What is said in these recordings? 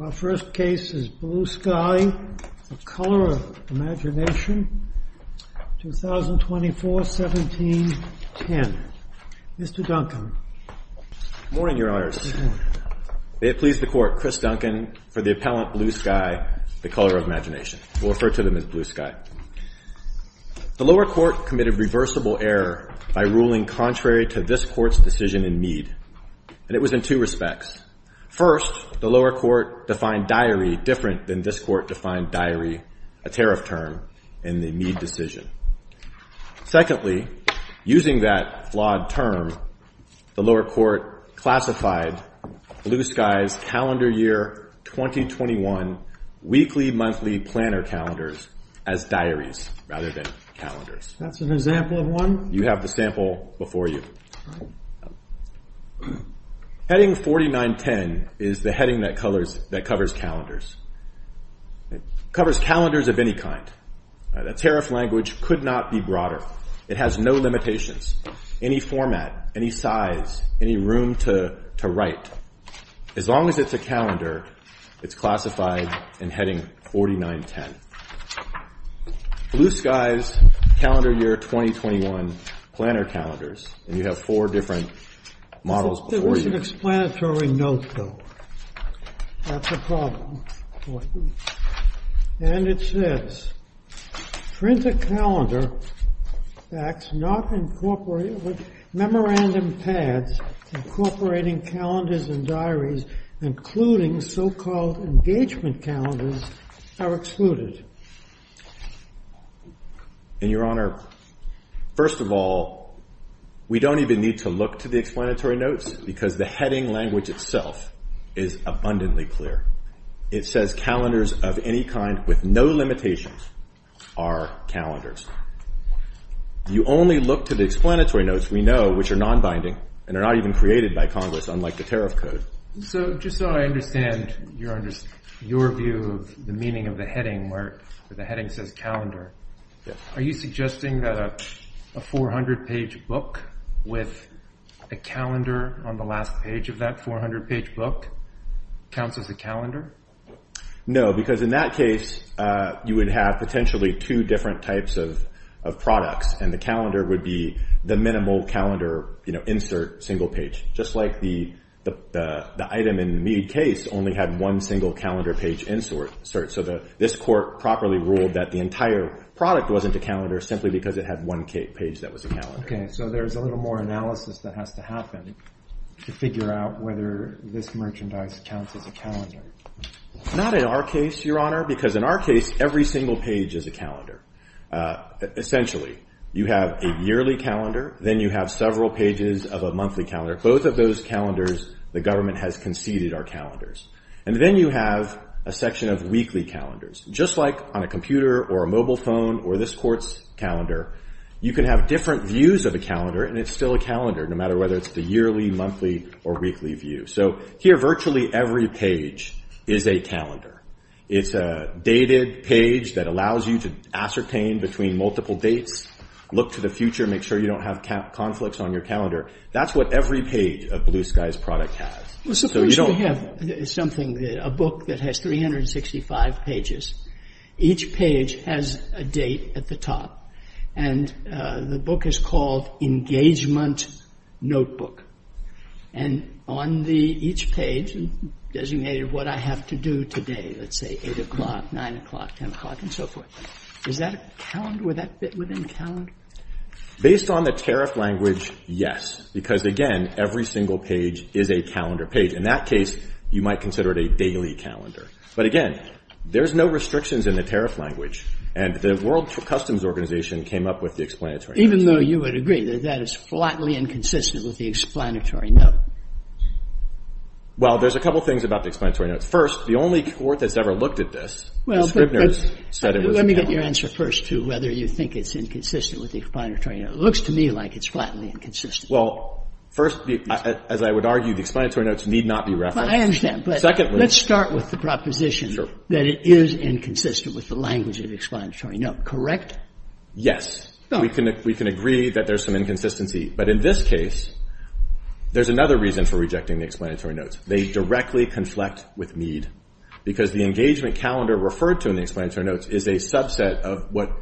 Our first case is Blue Sky the Color of Imagination, 2024, 1710. Mr. Duncan. Good morning, Your Honors. May it please the Court, Chris Duncan for the appellant Blue Sky the Color of Imagination. We'll refer to him as Blue Sky. The lower court committed reversible error by ruling contrary to this court's decision in Mead. And it was in two respects. First, the lower court defined diary different than this court defined diary, a tariff term, in the Mead decision. Secondly, using that flawed term, the lower court classified Blue Sky's calendar year 2021 weekly monthly planner calendars as diaries rather than calendars. That's an example of one. You have the sample before you. Heading 4910 is the heading that covers calendars. It covers calendars of any kind. That tariff language could not be broader. It has no limitations, any format, any size, any room to write. As long as it's a calendar, it's classified in heading 4910. Blue Sky's calendar year 2021 planner calendars, and you have four different models before you. There was an explanatory note, though. That's a problem for you. And it says, print a calendar that's not incorporated with memorandum pads incorporating calendars and diaries, including so-called engagement calendars, are excluded. And Your Honor, first of all, we don't even need to look to the explanatory notes because the heading language itself is abundantly clear. It says calendars of any kind with no limitations are calendars. You only look to the explanatory notes, we know, which are non-binding and are not even created by Congress, unlike the tariff code. So just so I understand, Your Honor, your view of the meaning of the heading where the heading says calendar, are you suggesting that a 400-page book with a calendar on the last page of that 400-page book counts as a calendar? No, because in that case, you would have potentially two different types of products. And the calendar would be the minimal calendar insert single page, just like the item in the Mead case only had one single calendar page insert. So this court properly ruled that the entire product wasn't a calendar simply because it had one page that was a calendar. OK, so there's a little more analysis that has to happen to figure out whether this merchandise counts as a calendar. Not in our case, Your Honor, because in our case, every single page is a calendar. Essentially, you have a yearly calendar, then you have several pages of a monthly calendar. Both of those calendars, the government has conceded are calendars. And then you have a section of weekly calendars. Just like on a computer or a mobile phone or this court's calendar, you can have different views of a calendar, and it's still a calendar, no matter whether it's the yearly, monthly, or weekly view. So here, virtually every page is a calendar. It's a dated page that allows you to ascertain between multiple dates, look to the future, make sure you don't have conflicts on your calendar. That's what every page of Blue Sky's product has. So suppose we have something, a book that has 365 pages. Each page has a date at the top. And the book is called Engagement Notebook. And on each page, designated what I have to do today, let's say 8 o'clock, 9 o'clock, 10 o'clock, and so forth. Is that a calendar? Would that fit within a calendar? Based on the tariff language, yes. Because again, every single page is a calendar page. In that case, you might consider it a daily calendar. But again, there's no restrictions in the tariff language. And the World Customs Organization came up with the explanatory note. Even though you would agree that that is flatly inconsistent with the explanatory note? Well, there's a couple things about the explanatory note. First, the only court that's ever looked at this, the Scribner's, said it was a calendar. Let me get your answer first to whether you think it's inconsistent with the explanatory note. It looks to me like it's flatly inconsistent. First, as I would argue, the explanatory notes need not be referenced. I understand. But let's start with the proposition that it is inconsistent with the language of explanatory note. Correct? Yes. We can agree that there's some inconsistency. But in this case, there's another reason for rejecting the explanatory notes. They directly conflict with Mead. Because the engagement calendar referred to in the explanatory notes is a subset of what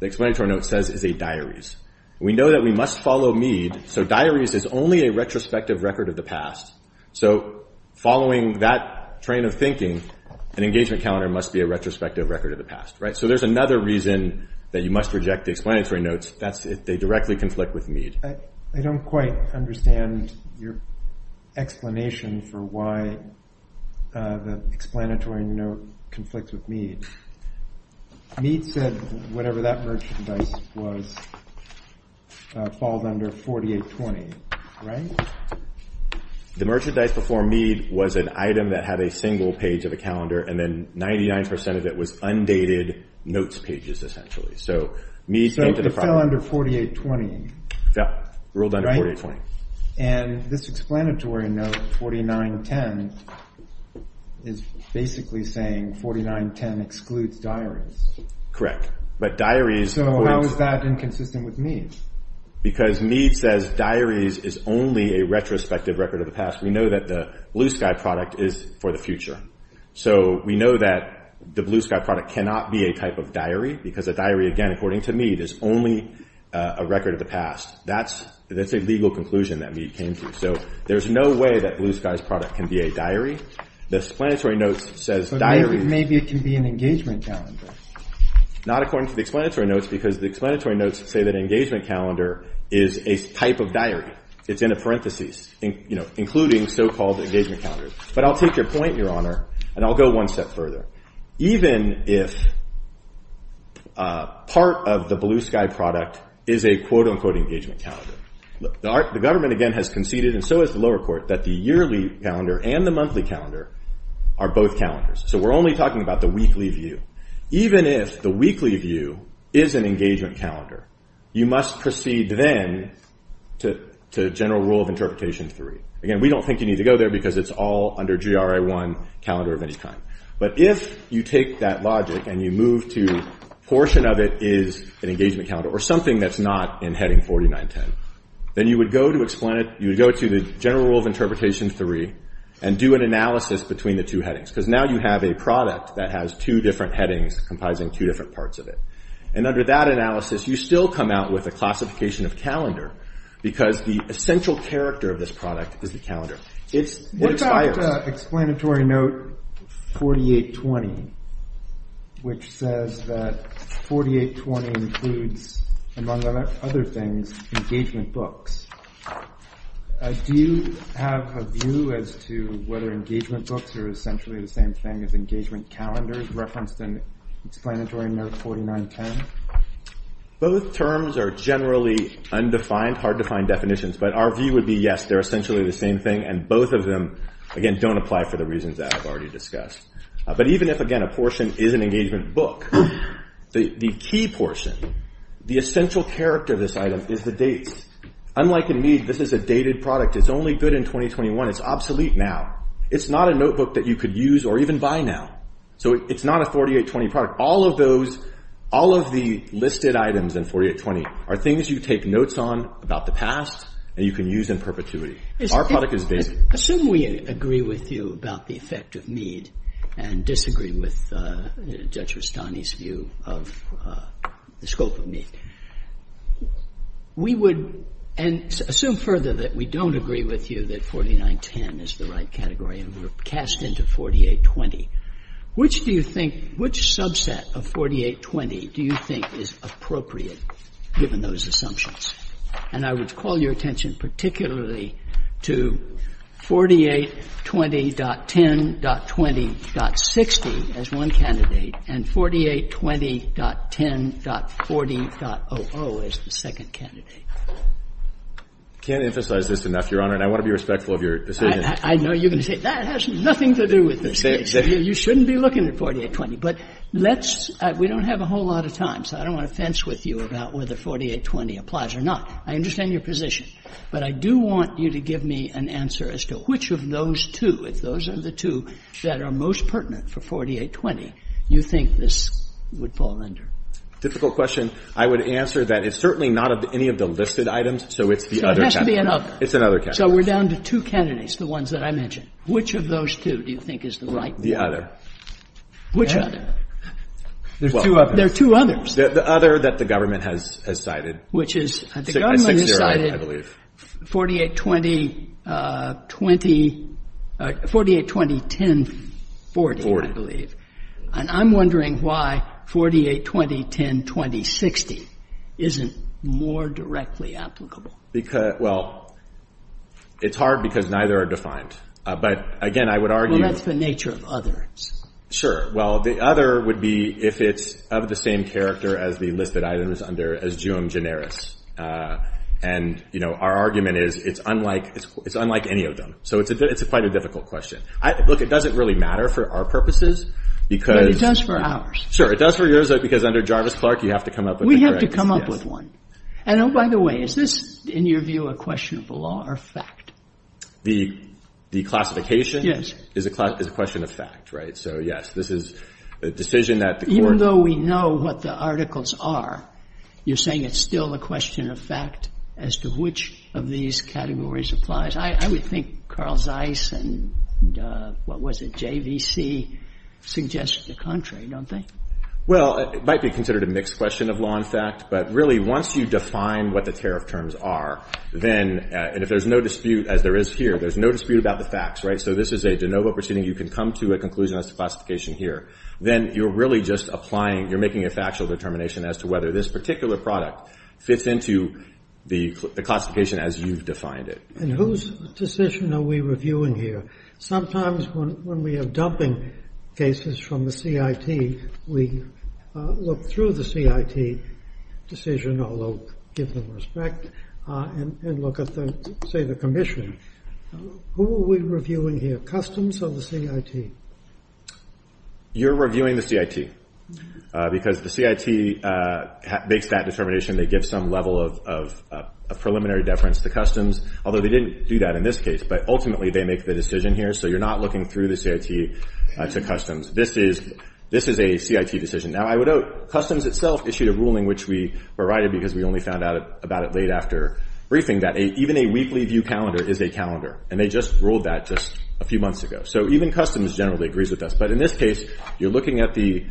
the explanatory note says is a diaries. We know that we must follow Mead. So diaries is only a retrospective record of the past. So following that train of thinking, an engagement calendar must be a retrospective record of the past. So there's another reason that you must reject the explanatory notes. They directly conflict with Mead. I don't quite understand your explanation for why the explanatory note conflicts with Mead. Mead said whatever that merchandise was falls under 4820, right? The merchandise before Mead was an item that had a single page of a calendar. And then 99% of it was undated notes pages, essentially. So Mead's note to the front. So it fell under 4820. Yeah, ruled under 4820. And this explanatory note, 4910, is basically saying 4910 excludes diaries. Correct. But diaries avoids. Why is that inconsistent with Mead? Because Mead says diaries is only a retrospective record of the past. We know that the Blue Sky product is for the future. So we know that the Blue Sky product cannot be a type of diary, because a diary, again, according to Mead, is only a record of the past. That's a legal conclusion that Mead came to. So there's no way that Blue Sky's product can be a diary. The explanatory note says diary. Maybe it can be an engagement calendar. Not according to the explanatory notes, because the explanatory notes say that engagement calendar is a type of diary. It's in a parentheses, including so-called engagement calendars. But I'll take your point, Your Honor, and I'll go one step further. Even if part of the Blue Sky product is a, quote unquote, engagement calendar, the government, again, has conceded, and so has the lower court, that the yearly calendar and the monthly calendar are both calendars. So we're only talking about the weekly view. Even if the weekly view is an engagement calendar, you must proceed then to General Rule of Interpretation 3. Again, we don't think you need to go there, because it's all under GRI 1, calendar of any kind. But if you take that logic and you move to portion of it is an engagement calendar, or something that's not in Heading 4910, then you would go to the General Rule of Interpretation 3 and do an analysis between the two headings. Because now you have a product that has two different headings comprising two different parts of it. And under that analysis, you still come out with a classification of calendar, because the essential character of this product is the calendar. It expires. What about explanatory note 4820, which says that 4820 includes, among other things, engagement books? Do you have a view as to whether engagement books are essentially the same thing as engagement calendars referenced in explanatory note 4910? Both terms are generally undefined, hard to find definitions. But our view would be, yes, they're essentially the same thing. And both of them, again, don't apply for the reasons that I've already discussed. But even if, again, a portion is an engagement book, the key portion, the essential character of this item is the dates. Unlike in me, this is a dated product. It's only good in 2021. It's obsolete now. It's not a notebook that you could use or even buy now. So it's not a 4820 product. All of those, all of the listed items in 4820 are things you take notes on about the past and you can use in perpetuity. Our product is dated. Assume we agree with you about the effect of Mead and disagree with Judge Rustani's view of the scope of Mead. We would, and assume further that we don't agree with you that 4910 is the right category and we're cast into 4820. Which do you think, which subset of 4820 do you think is appropriate given those assumptions? And I would call your attention particularly to 4820.10.20.60 as one candidate and 4820.10.40.00 as the second candidate. I can't emphasize this enough, Your Honor, and I want to be respectful of your decision. I know you're going to say, that has nothing to do with this case. You shouldn't be looking at 4820. But let's, we don't have a whole lot of time, so I don't want to fence with you about whether 4820 applies or not. I understand your position, but I do want you to give me an answer as to which of those two, if those are the two that are most pertinent for 4820, you think this would fall under? Difficult question. I would answer that it's certainly not of any of the listed items, so it's the other candidate. So it has to be another. It's another candidate. So we're down to two candidates, the ones that I mentioned. Which of those two do you think is the right one? The other. Which other? There's two others. There are two others. The other that the government has cited. Which is, the government has cited 4820.20, 4820.10.40, I believe. And I'm wondering why 4820.10.20.60 isn't more directly applicable. Because, well, it's hard because neither are defined. But again, I would argue. Well, that's the nature of others. Sure. Well, the other would be if it's of the same character as the listed items under as geom generis. And our argument is it's unlike any of them. So it's quite a difficult question. Look, it doesn't really matter for our purposes. But it does for ours. Sure, it does for yours, because under Jarvis-Clark, you have to come up with a correctness. We have to come up with one. And oh, by the way, is this, in your view, a question of the law or fact? The classification is a question of fact, right? So yes, this is a decision that the court. Even though we know what the articles are, you're saying it's still a question of fact as to which of these categories applies. I would think Carl Zeiss and, what was it, JVC suggest the contrary, don't they? Well, it might be considered a mixed question of law and fact. But really, once you define what the tariff terms are, then, and if there's no dispute, as there is here, there's no dispute about the facts, right? So this is a de novo proceeding. You can come to a conclusion as to classification here. Then you're really just applying, you're making a factual determination as to whether this particular product fits into the classification as you've defined it. And whose decision are we reviewing here? Sometimes when we have dumping cases from the CIT, we look through the CIT decision, although give them respect, and look at, say, the commission. Who are we reviewing here, Customs or the CIT? You're reviewing the CIT. Because the CIT makes that determination. They give some level of preliminary deference to Customs. Although they didn't do that in this case. But ultimately, they make the decision here. So you're not looking through the CIT to Customs. This is a CIT decision. Now, I would note, Customs itself issued a ruling, which we were righted because we only found out about it late after briefing, that even a weekly view calendar is a calendar. And they just ruled that just a few months ago. So even Customs generally agrees with us. But in this case, you're looking at the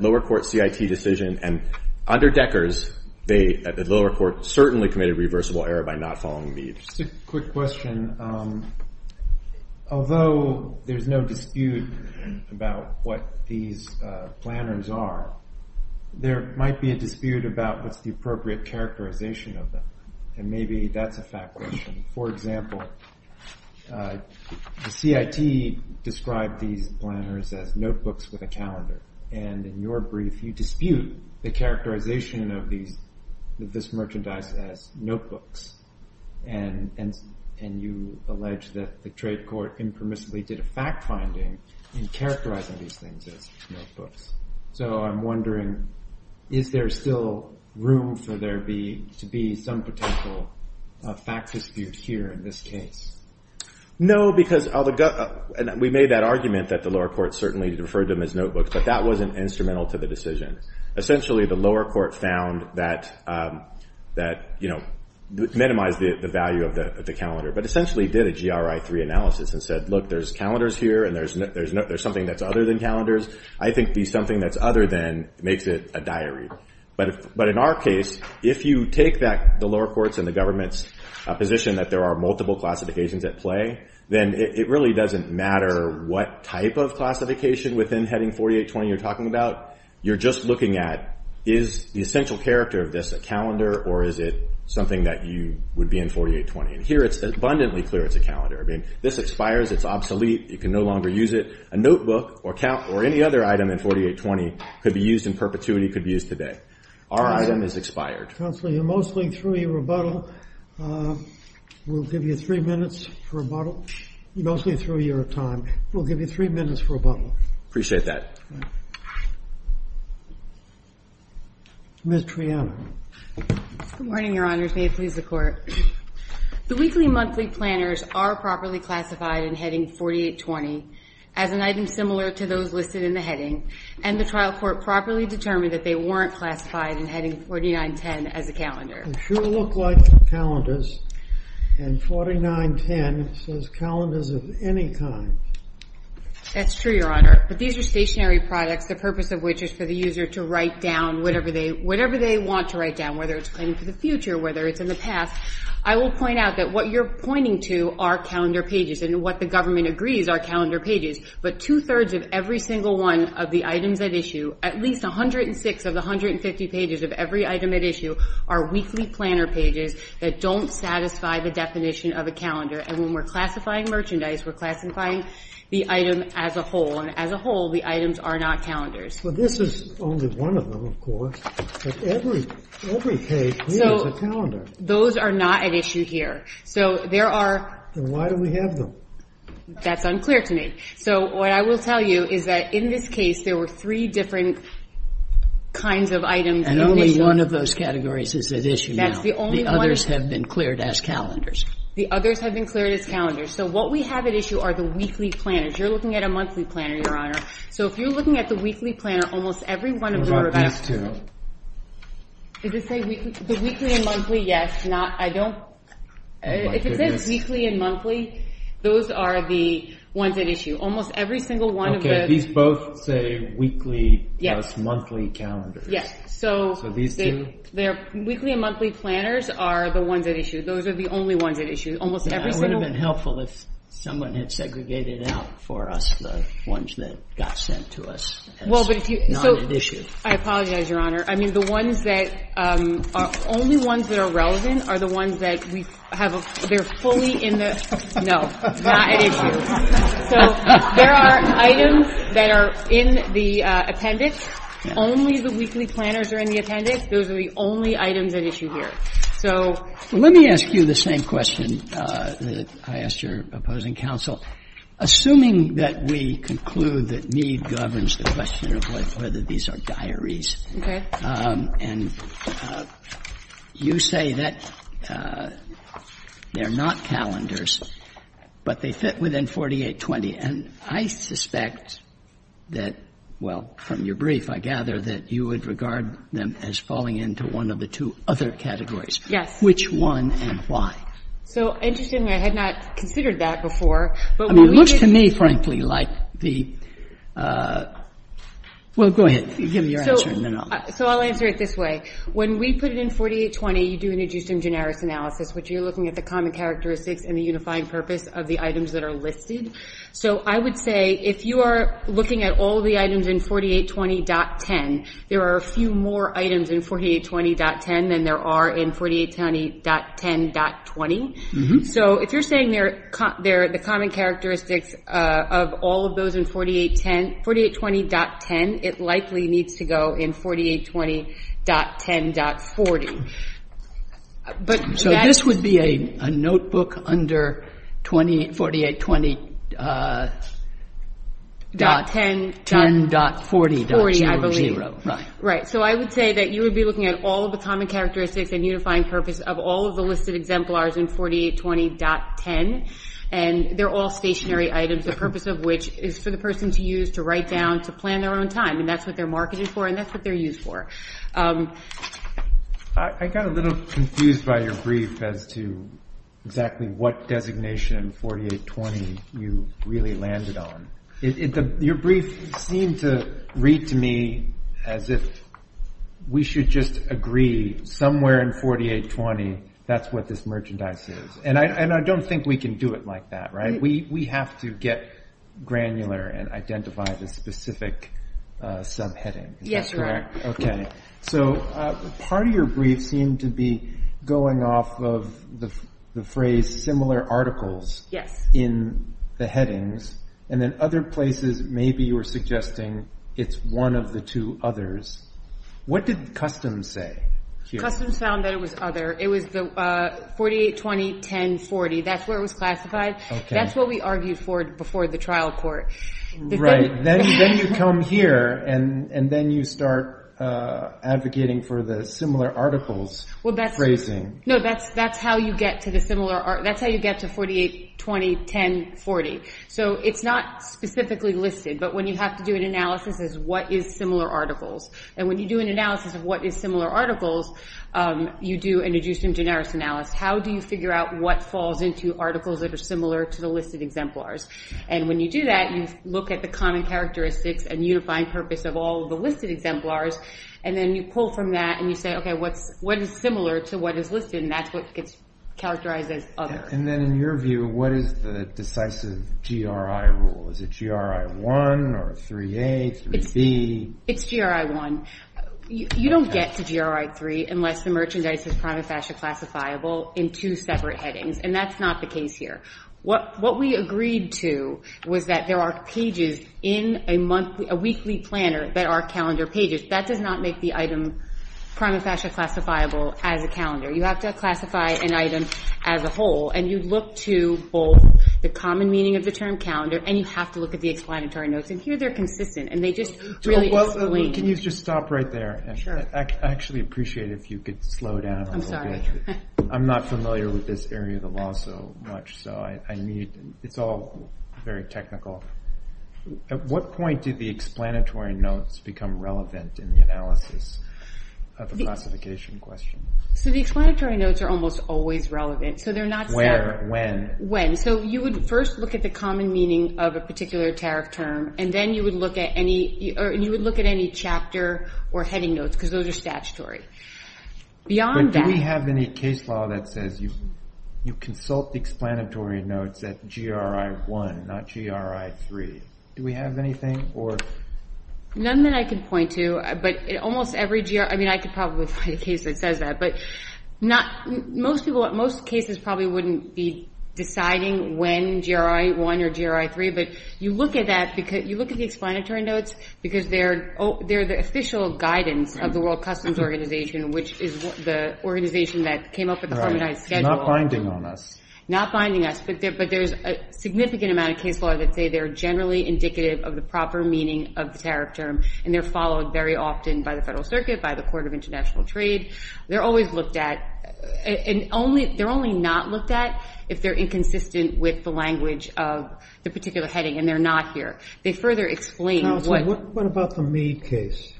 lower court CIT decision. And under Decker's, the lower court certainly committed reversible error by not following the age. Just a quick question. Although there's no dispute about what these planners are, there might be a dispute about what's the appropriate characterization of them. And maybe that's a fact question. For example, the CIT described these planners as notebooks with a calendar. And in your brief, you dispute the characterization of this merchandise as notebooks. And you allege that the trade court impermissibly did a fact finding in characterizing these things as notebooks. So I'm wondering, is there still room for there to be some potential fact dispute here in this case? No, because we made that argument that the lower court certainly referred to them as notebooks. But that wasn't instrumental to the decision. Essentially, the lower court found that it minimized the value of the calendar, but essentially did a GRI-3 analysis and said, look, there's calendars here. And there's something that's other than calendars. I think the something that's other than makes it a diary. But in our case, if you take the lower court's and the government's position that there are multiple classifications at play, then it really doesn't matter what type of classification within heading 4820 you're talking about. You're just looking at, is the essential character of this a calendar, or is it something that you would be in 4820? And here, it's abundantly clear it's a calendar. This expires. It's obsolete. You can no longer use it. A notebook or any other item in 4820 could be used in perpetuity, could be used today. Our item is expired. Counselor, you're mostly through your rebuttal. We'll give you three minutes for rebuttal. Mostly through your time. We'll give you three minutes for rebuttal. Appreciate that. Ms. Triana. Good morning, Your Honor. May it please the Court. The weekly monthly planners are properly classified in heading 4820 as an item similar to those listed in the heading. And the trial court properly determined that they weren't classified in heading 4910 as a calendar. They sure look like calendars. And 4910 says calendars of any kind. That's true, Your Honor. But these are stationary products, the purpose of which is for the user to write down whatever they want to write down, whether it's planning for the future, whether it's in the past. I will point out that what you're pointing to are calendar pages. And what the government agrees are calendar pages. But 2 thirds of every single one of the items at issue, at least 106 of the 150 pages of every item at issue, are weekly planner pages that don't satisfy the definition of a calendar. And when we're classifying merchandise, we're classifying the item as a whole. And as a whole, the items are not calendars. Well, this is only one of them, of course. But every page needs a calendar. Those are not at issue here. So there are. Then why do we have them? That's unclear to me. So what I will tell you is that in this case, there were three different kinds of items. And only one of those categories is at issue now. That's the only one. The others have been cleared as calendars. The others have been cleared as calendars. So what we have at issue are the weekly planners. You're looking at a monthly planner, Your Honor. So if you're looking at the weekly planner, almost every one of the revived calendars. What about these two? Did it say weekly? The weekly and monthly, yes. Not, I don't, if it says weekly and monthly, those are the ones at issue. Almost every single one of the. Okay, these both say weekly plus monthly calendars. Yes. So these two? Their weekly and monthly planners are the ones at issue. Those are the only ones at issue. Almost every single one. It would have been helpful if someone had segregated out for us the ones that got sent to us as not at issue. I apologize, Your Honor. I mean, the ones that, only ones that are relevant are the ones that we have, they're fully in the, no, not at issue. So there are items that are in the appendix. Only the weekly planners are in the appendix. Those are the only items at issue here. So. Let me ask you the same question. I asked your opposing counsel, assuming that we conclude that Meade governs the question of whether these are diaries. And you say that they're not calendars, but they fit within 4820. And I suspect that, well, from your brief, I gather, that you would regard them as falling into one of the two other categories. Yes. Which one and why? So interestingly, I had not considered that before, but when we did. Much to me, frankly, like the, well, go ahead. Give me your answer and then I'll. So I'll answer it this way. When we put it in 4820, you do an adjustum generis analysis, which you're looking at the common characteristics and the unifying purpose of the items that are listed. So I would say, if you are looking at all the items in 4820.10, there are a few more items in 4820.10 than there are in 4820.10.20. So if you're saying they're the common characteristics of all of those in 4820.10, it likely needs to go in 4820.10.40. But that's. So this would be a notebook under 4820.10.40.00. Right, so I would say that you would be looking at all of the common characteristics and unifying purpose of all of the listed exemplars in 4820.10, and they're all stationary items, the purpose of which is for the person to use, to write down, to plan their own time, and that's what they're marketed for, and that's what they're used for. I got a little confused by your brief as to exactly what designation in 4820 you really landed on. Your brief seemed to read to me as if we should just agree somewhere in 4820 that's what this merchandise is. And I don't think we can do it like that, right? We have to get granular and identify the specific subheading. Is that correct? Okay, so part of your brief seemed to be going off of the phrase similar articles in the headings, and then other places maybe you were suggesting it's one of the two others. What did customs say? Customs found that it was other. It was the 4820.10.40, that's where it was classified. That's what we argued for before the trial court. Right, then you come here, and then you start advocating for the similar articles phrasing. No, that's how you get to the similar, that's how you get to 4820.10.40. So it's not specifically listed, but when you have to do an analysis as what is similar articles, and when you do an analysis of what is similar articles, you do an adjucent generis analysis. How do you figure out what falls into articles that are similar to the listed exemplars? And when you do that, you look at the common characteristics and unifying purpose of all of the listed exemplars, and then you pull from that, and you say, okay, what is similar to what is listed? And that's what gets characterized as other. And then in your view, what is the decisive GRI rule? Is it GRI 1 or 3A, 3B? It's GRI 1. You don't get to GRI 3 unless the merchandise is prima facie classifiable in two separate headings, and that's not the case here. What we agreed to was that there are pages in a weekly planner that are calendar pages. That does not make the item prima facie classifiable as a calendar. You have to classify an item as a whole, and you look to both the common meaning of the term calendar, and you have to look at the explanatory notes, and here they're consistent, and they just really explain. Can you just stop right there? Sure. I actually appreciate if you could slow down a little bit. I'm sorry. I'm not familiar with this area of the law so much, so I need, it's all very technical. At what point did the explanatory notes become relevant in the analysis of the classification question? So the explanatory notes are almost always relevant. So they're not set. Where, when? When. So you would first look at the common meaning of a particular tariff term, and then you would look at any chapter or heading notes, because those are statutory. Beyond that. But do we have any case law that says you consult the explanatory notes at GRI 1, not GRI 3? Do we have anything, or? None that I can point to, but almost every, I mean, I could probably find a case that says that, but most cases probably wouldn't be deciding when GRI 1 or GRI 3, but you look at that, you look at the explanatory notes, because they're the official guidance of the World Customs Organization, which is the organization that came up with the harmonized schedule. Right, not binding on us. Not binding us, but there's a significant amount of case law that say they're generally indicative of the proper meaning of the tariff term, and they're followed very often by the Federal Circuit, by the Court of International Trade. They're always looked at, and they're only not looked at if they're inconsistent with the language of the particular heading, and they're not here. They further explain what- What about the Mead case?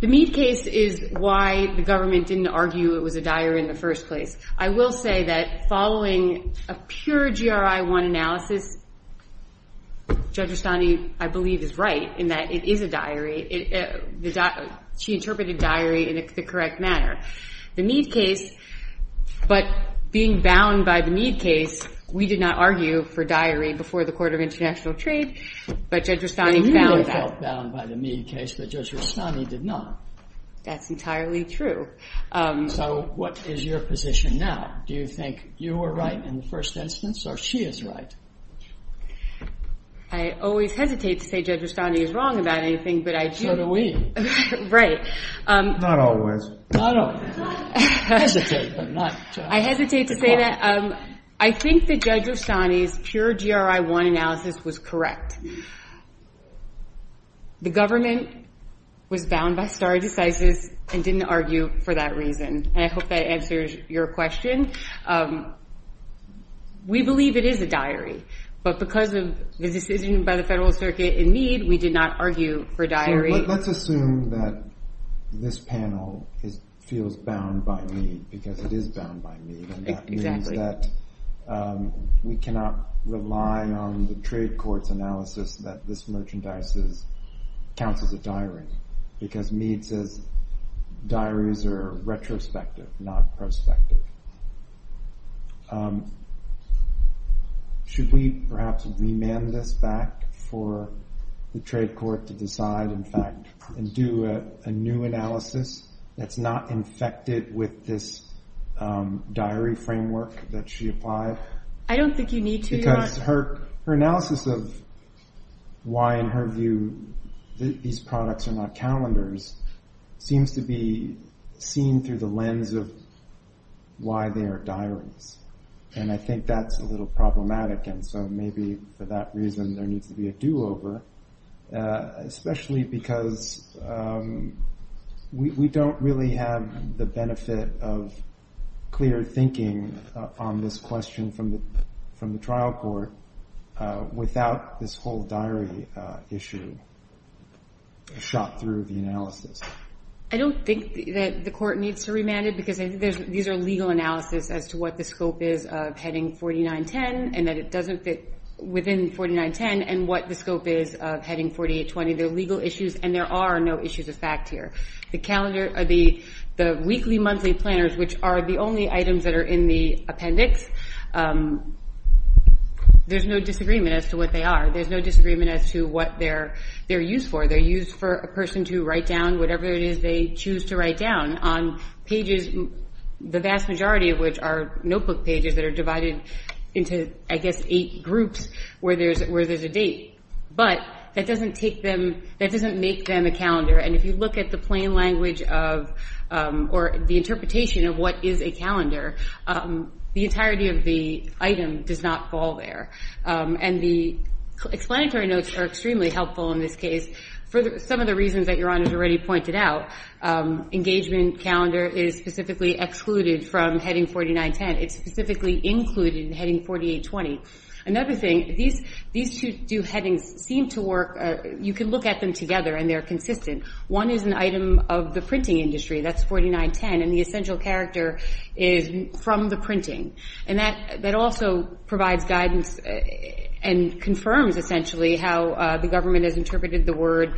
The Mead case is why the government didn't argue it was a diary in the first place. I will say that following a pure GRI 1 analysis, Judge Rustani, I believe, is right, in that it is a diary. She interpreted diary in the correct manner. The Mead case, but being bound by the Mead case, we did not argue for diary before the Court of International Trade, but Judge Rustani found that- You really felt bound by the Mead case, but Judge Rustani did not. That's entirely true. So what is your position now? Do you think you were right in the first instance, or she is right? I always hesitate to say Judge Rustani is wrong about anything, but I do- So do we. Right. Not always. Not always. Hesitate, but not- I hesitate to say that. I think that Judge Rustani's pure GRI 1 analysis was correct. The government was bound by stare decisis and didn't argue for that reason, and I hope that answers your question. We believe it is a diary, but because of the decision by the Federal Circuit in Mead, we did not argue for diary. Let's assume that this panel feels bound by Mead, because it is bound by Mead, and that means that we cannot rely on the trade court's analysis that this merchandise counts as a diary, because Mead says diaries are retrospective, not prospective. Should we perhaps remand this back for the trade court to decide, in fact, and do a new analysis that's not infected with this diary framework that she applied? I don't think you need to, Your Honor. Because her analysis of why, in her view, these products are not calendars seems to be seen through the lens of why they are diaries, and I think that's a little problematic, and so maybe for that reason, there needs to be a do-over, especially because we don't really have the benefit of clear thinking on this question from the trial court without this whole diary issue shot through the analysis. I don't think that the court needs to remand it, because I think these are legal analysis as to what the scope is of heading 4910, and that it doesn't fit within 4910, and what the scope is of heading 4820. They're legal issues, and there are no issues of fact here. The calendar, the weekly, monthly planners, which are the only items that are in the appendix, there's no disagreement as to what they are. There's no disagreement as to what they're used for. They're used for a person to write down whatever it is they choose to write down on pages, the vast majority of which are notebook pages that are divided into, I guess, eight groups where there's a date, but that doesn't make them a calendar, and if you look at the plain language of, or the interpretation of what is a calendar, the entirety of the item does not fall there, and the explanatory notes are extremely helpful in this case for some of the reasons that Your Honor's already pointed out. Engagement calendar is specifically excluded from heading 4910. It's specifically included in heading 4820. Another thing, these two headings seem to work. You can look at them together, and they're consistent. One is an item of the printing industry. That's 4910, and the essential character is from the printing, and that also provides guidance and confirms, essentially, how the government has interpreted the word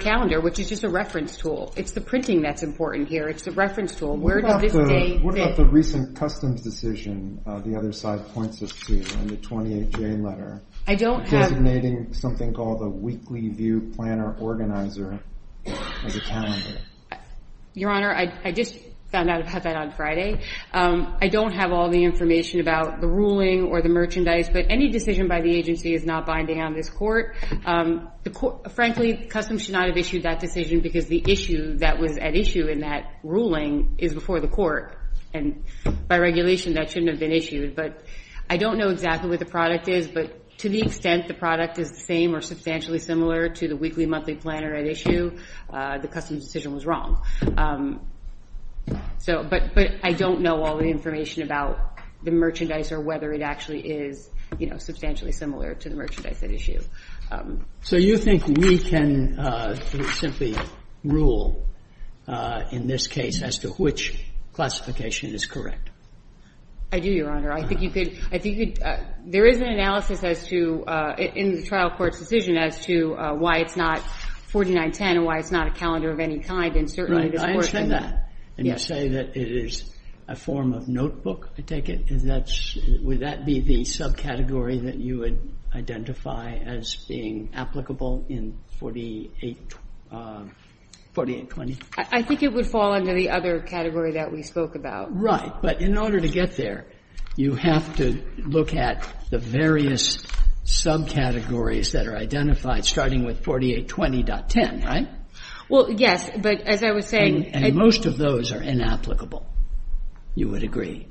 calendar, which is just a reference tool. It's the printing that's important here. It's the reference tool. Where does this date fit? What about the recent customs decision the other side points us to in the 28J letter? I don't have. Designating something called a weekly view planner organizer as a calendar. Your Honor, I just found out about that on Friday. I don't have all the information about the ruling or the merchandise, but any decision by the agency is not binding on this court. Frankly, customs should not have issued that decision because the issue that was at issue in that ruling is before the court, and by regulation, that shouldn't have been issued, but I don't know exactly what the product is, but to the extent the product is the same or substantially similar to the weekly, monthly planner at issue, the customs decision was wrong. But I don't know all the information about the merchandise or whether it actually is substantially similar to the merchandise at issue. So you think we can simply rule, in this case, as to which classification is correct? I do, Your Honor. I think you could, there is an analysis as to, in the trial court's decision, as to why it's not 4910 and why it's not a calendar of any kind, and certainly this works in that. Right, I understand that. And you say that it is a form of notebook, I take it? Would that be the subcategory that you would identify as being applicable in 4820? I think it would fall under the other category that we spoke about. Right, but in order to get there, you have to look at the various subcategories that are identified, starting with 4820.10, right? Well, yes, but as I was saying. And most of those are inapplicable, you would agree?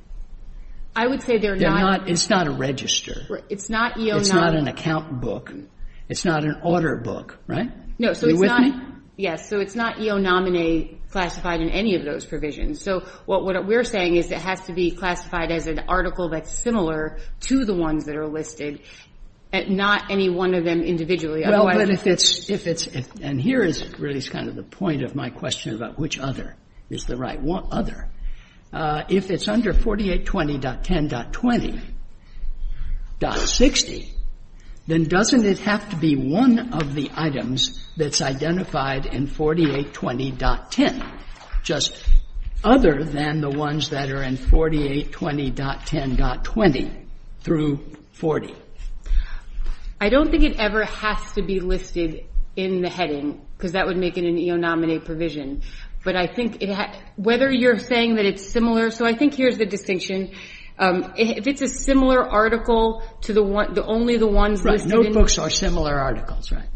I would say they're not. It's not a register. It's not EO. It's not an account book. It's not an order book, right? No, so it's not. You with me? It's not classified in any of those provisions. So what we're saying is it has to be classified as an article that's similar to the ones that are listed, not any one of them individually. Well, but if it's, and here is really kind of the point of my question about which other is the right other. If it's under 4820.10.20.60, then doesn't it have to be one of the items that's identified in 4820.10, just other than the ones that are in 4820.10.20 through 40? I don't think it ever has to be listed in the heading because that would make it an EO nominee provision. But I think it, whether you're saying that it's similar, so I think here's the distinction. If it's a similar article to the one, the only the ones listed in- Right, notebooks are similar articles, right?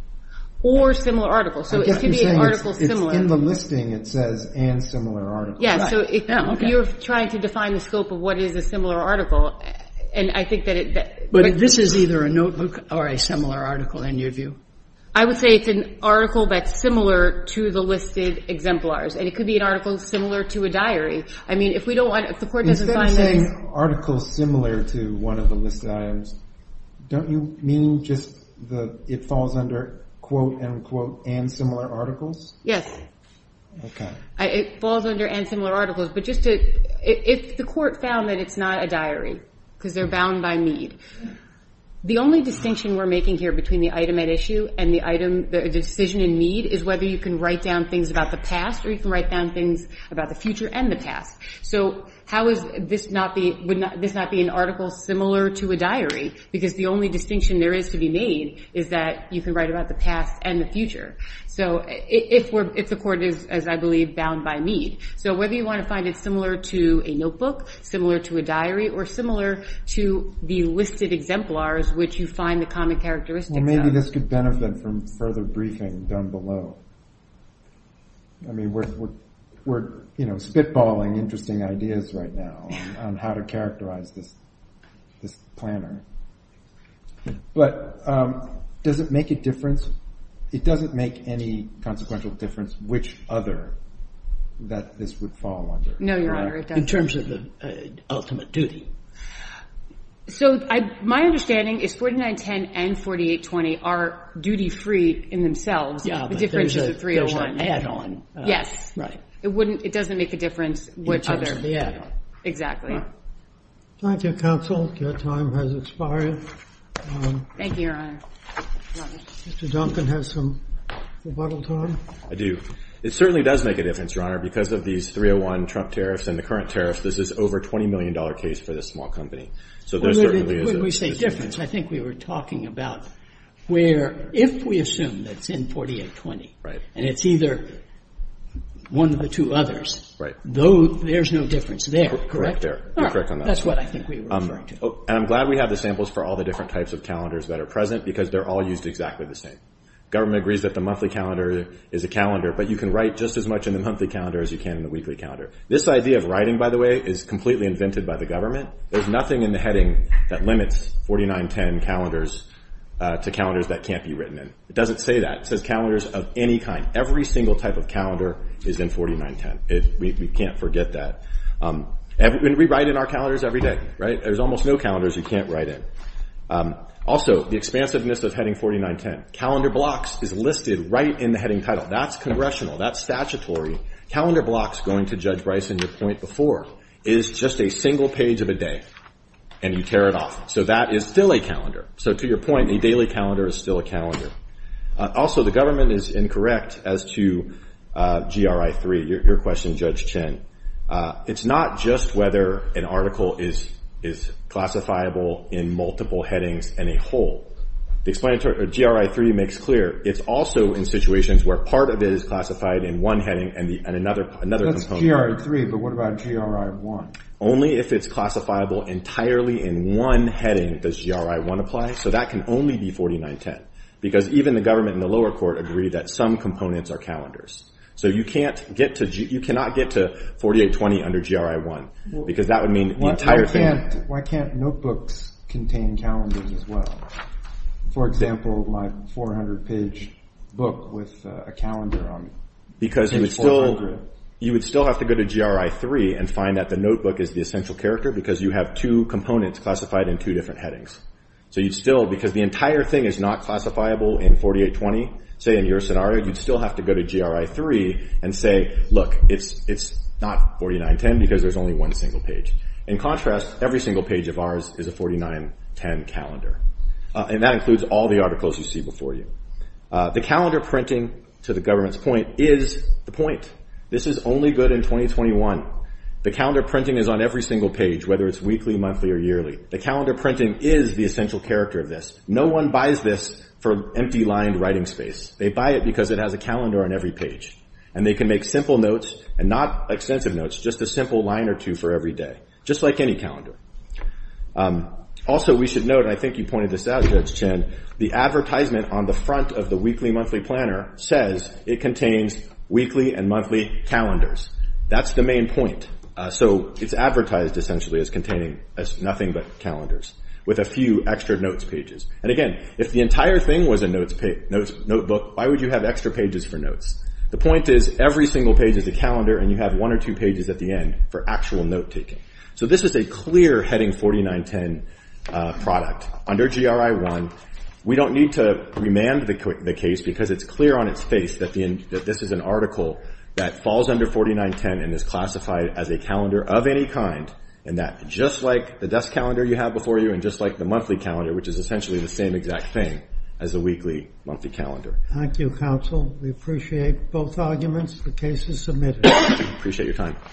Or similar articles. So it could be an article similar- I guess you're saying it's in the listing, it says and similar article. Yeah, so if you're trying to define the scope of what is a similar article, and I think that it- But this is either a notebook or a similar article in your view? I would say it's an article that's similar to the listed exemplars. And it could be an article similar to a diary. I mean, if we don't want, if the court doesn't find this- Instead of saying article similar to one of the listed items, don't you mean just the, it falls under quote-unquote and similar articles? Yes. Okay. It falls under and similar articles, but just to, if the court found that it's not a diary, because they're bound by Mead, the only distinction we're making here between the item at issue and the item, the decision in Mead, is whether you can write down things about the past, or you can write down things about the future and the past. So how is this not be, would this not be an article similar to a diary? Because the only distinction there is to be made is that you can write about the past and the future. So if we're, if the court is, as I believe, bound by Mead. So whether you want to find it similar to a notebook, similar to a diary, or similar to the listed exemplars, which you find the common characteristics of. Well, maybe this could benefit from further briefing down below. I mean, we're, you know, spitballing interesting ideas right now on how to characterize this planner. But does it make a difference? It doesn't make any consequential difference which other that this would fall under, correct? No, Your Honor, it doesn't. In terms of the ultimate duty. So my understanding is 4910 and 4820 are duty-free in themselves. Yeah, but there's an add-on. Yes, it wouldn't, it doesn't make a difference which other, yeah. Thank you, counsel, your time has expired. Thank you, Your Honor. Mr. Duncan has some rebuttal time. I do. It certainly does make a difference, Your Honor, because of these 301 Trump tariffs and the current tariffs, this is over a $20 million case for this small company. So there certainly is a difference. When we say difference, I think we were talking about where if we assume that it's in 4820, and it's either one of the two others, though there's no difference there, correct? Correct there, you're correct on that. That's what I think we were referring to. And I'm glad we have the samples for all the different types of calendars that are present because they're all used exactly the same. Government agrees that the monthly calendar is a calendar, but you can write just as much in the monthly calendar as you can in the weekly calendar. This idea of writing, by the way, is completely invented by the government. There's nothing in the heading that limits 4910 calendars to calendars that can't be written in. It doesn't say that, it says calendars of any kind. Every single type of calendar is in 4910. We can't forget that. We write in our calendars every day, right? There's almost no calendars you can't write in. Also, the expansiveness of heading 4910. Calendar blocks is listed right in the heading title. That's congressional, that's statutory. Calendar blocks, going to Judge Bryson, your point before, is just a single page of a day, and you tear it off. So that is still a calendar. So to your point, a daily calendar is still a calendar. Also, the government is incorrect as to GRI-3, your question, Judge Chin. It's not just whether an article is classifiable in multiple headings and a whole. The explanatory, GRI-3 makes clear, it's also in situations where part of it is classified in one heading and another component. That's GRI-3, but what about GRI-1? Only if it's classifiable entirely in one heading does GRI-1 apply, so that can only be 4910. Because even the government and the lower court agree that some components are calendars. So you cannot get to 4820 under GRI-1, because that would mean the entire thing. Why can't notebooks contain calendars as well? For example, my 400-page book with a calendar on it. Because you would still have to go to GRI-3 and find that the notebook is the essential character because you have two components classified in two different headings. So you'd still, because the entire thing is not classifiable in 4820, say in your scenario, you'd still have to go to GRI-3 and say, look, it's not 4910 because there's only one single page. In contrast, every single page of ours is a 4910 calendar. And that includes all the articles you see before you. The calendar printing, to the government's point, is the point. This is only good in 2021. The calendar printing is on every single page, whether it's weekly, monthly, or yearly. The calendar printing is the essential character of this. No one buys this for empty-lined writing space. They buy it because it has a calendar on every page. And they can make simple notes, and not extensive notes, just a simple line or two for every day, just like any calendar. Also, we should note, and I think you pointed this out, Judge Chen, the advertisement on the front of the weekly-monthly planner says it contains weekly and monthly calendars. That's the main point. So it's advertised, essentially, as containing nothing but calendars, with a few extra notes pages. And again, if the entire thing was a notebook, why would you have extra pages for notes? The point is, every single page is a calendar, and you have one or two pages at the end for actual note-taking. So this is a clear Heading 4910 product. Under GRI 1, we don't need to remand the case because it's clear on its face that this is an article that falls under 4910, and is classified as a calendar of any kind, and that, just like the desk calendar you have before you, and just like the monthly calendar, which is essentially the same exact thing as a weekly-monthly calendar. Thank you, counsel. We appreciate both arguments. The case is submitted. Appreciate your time.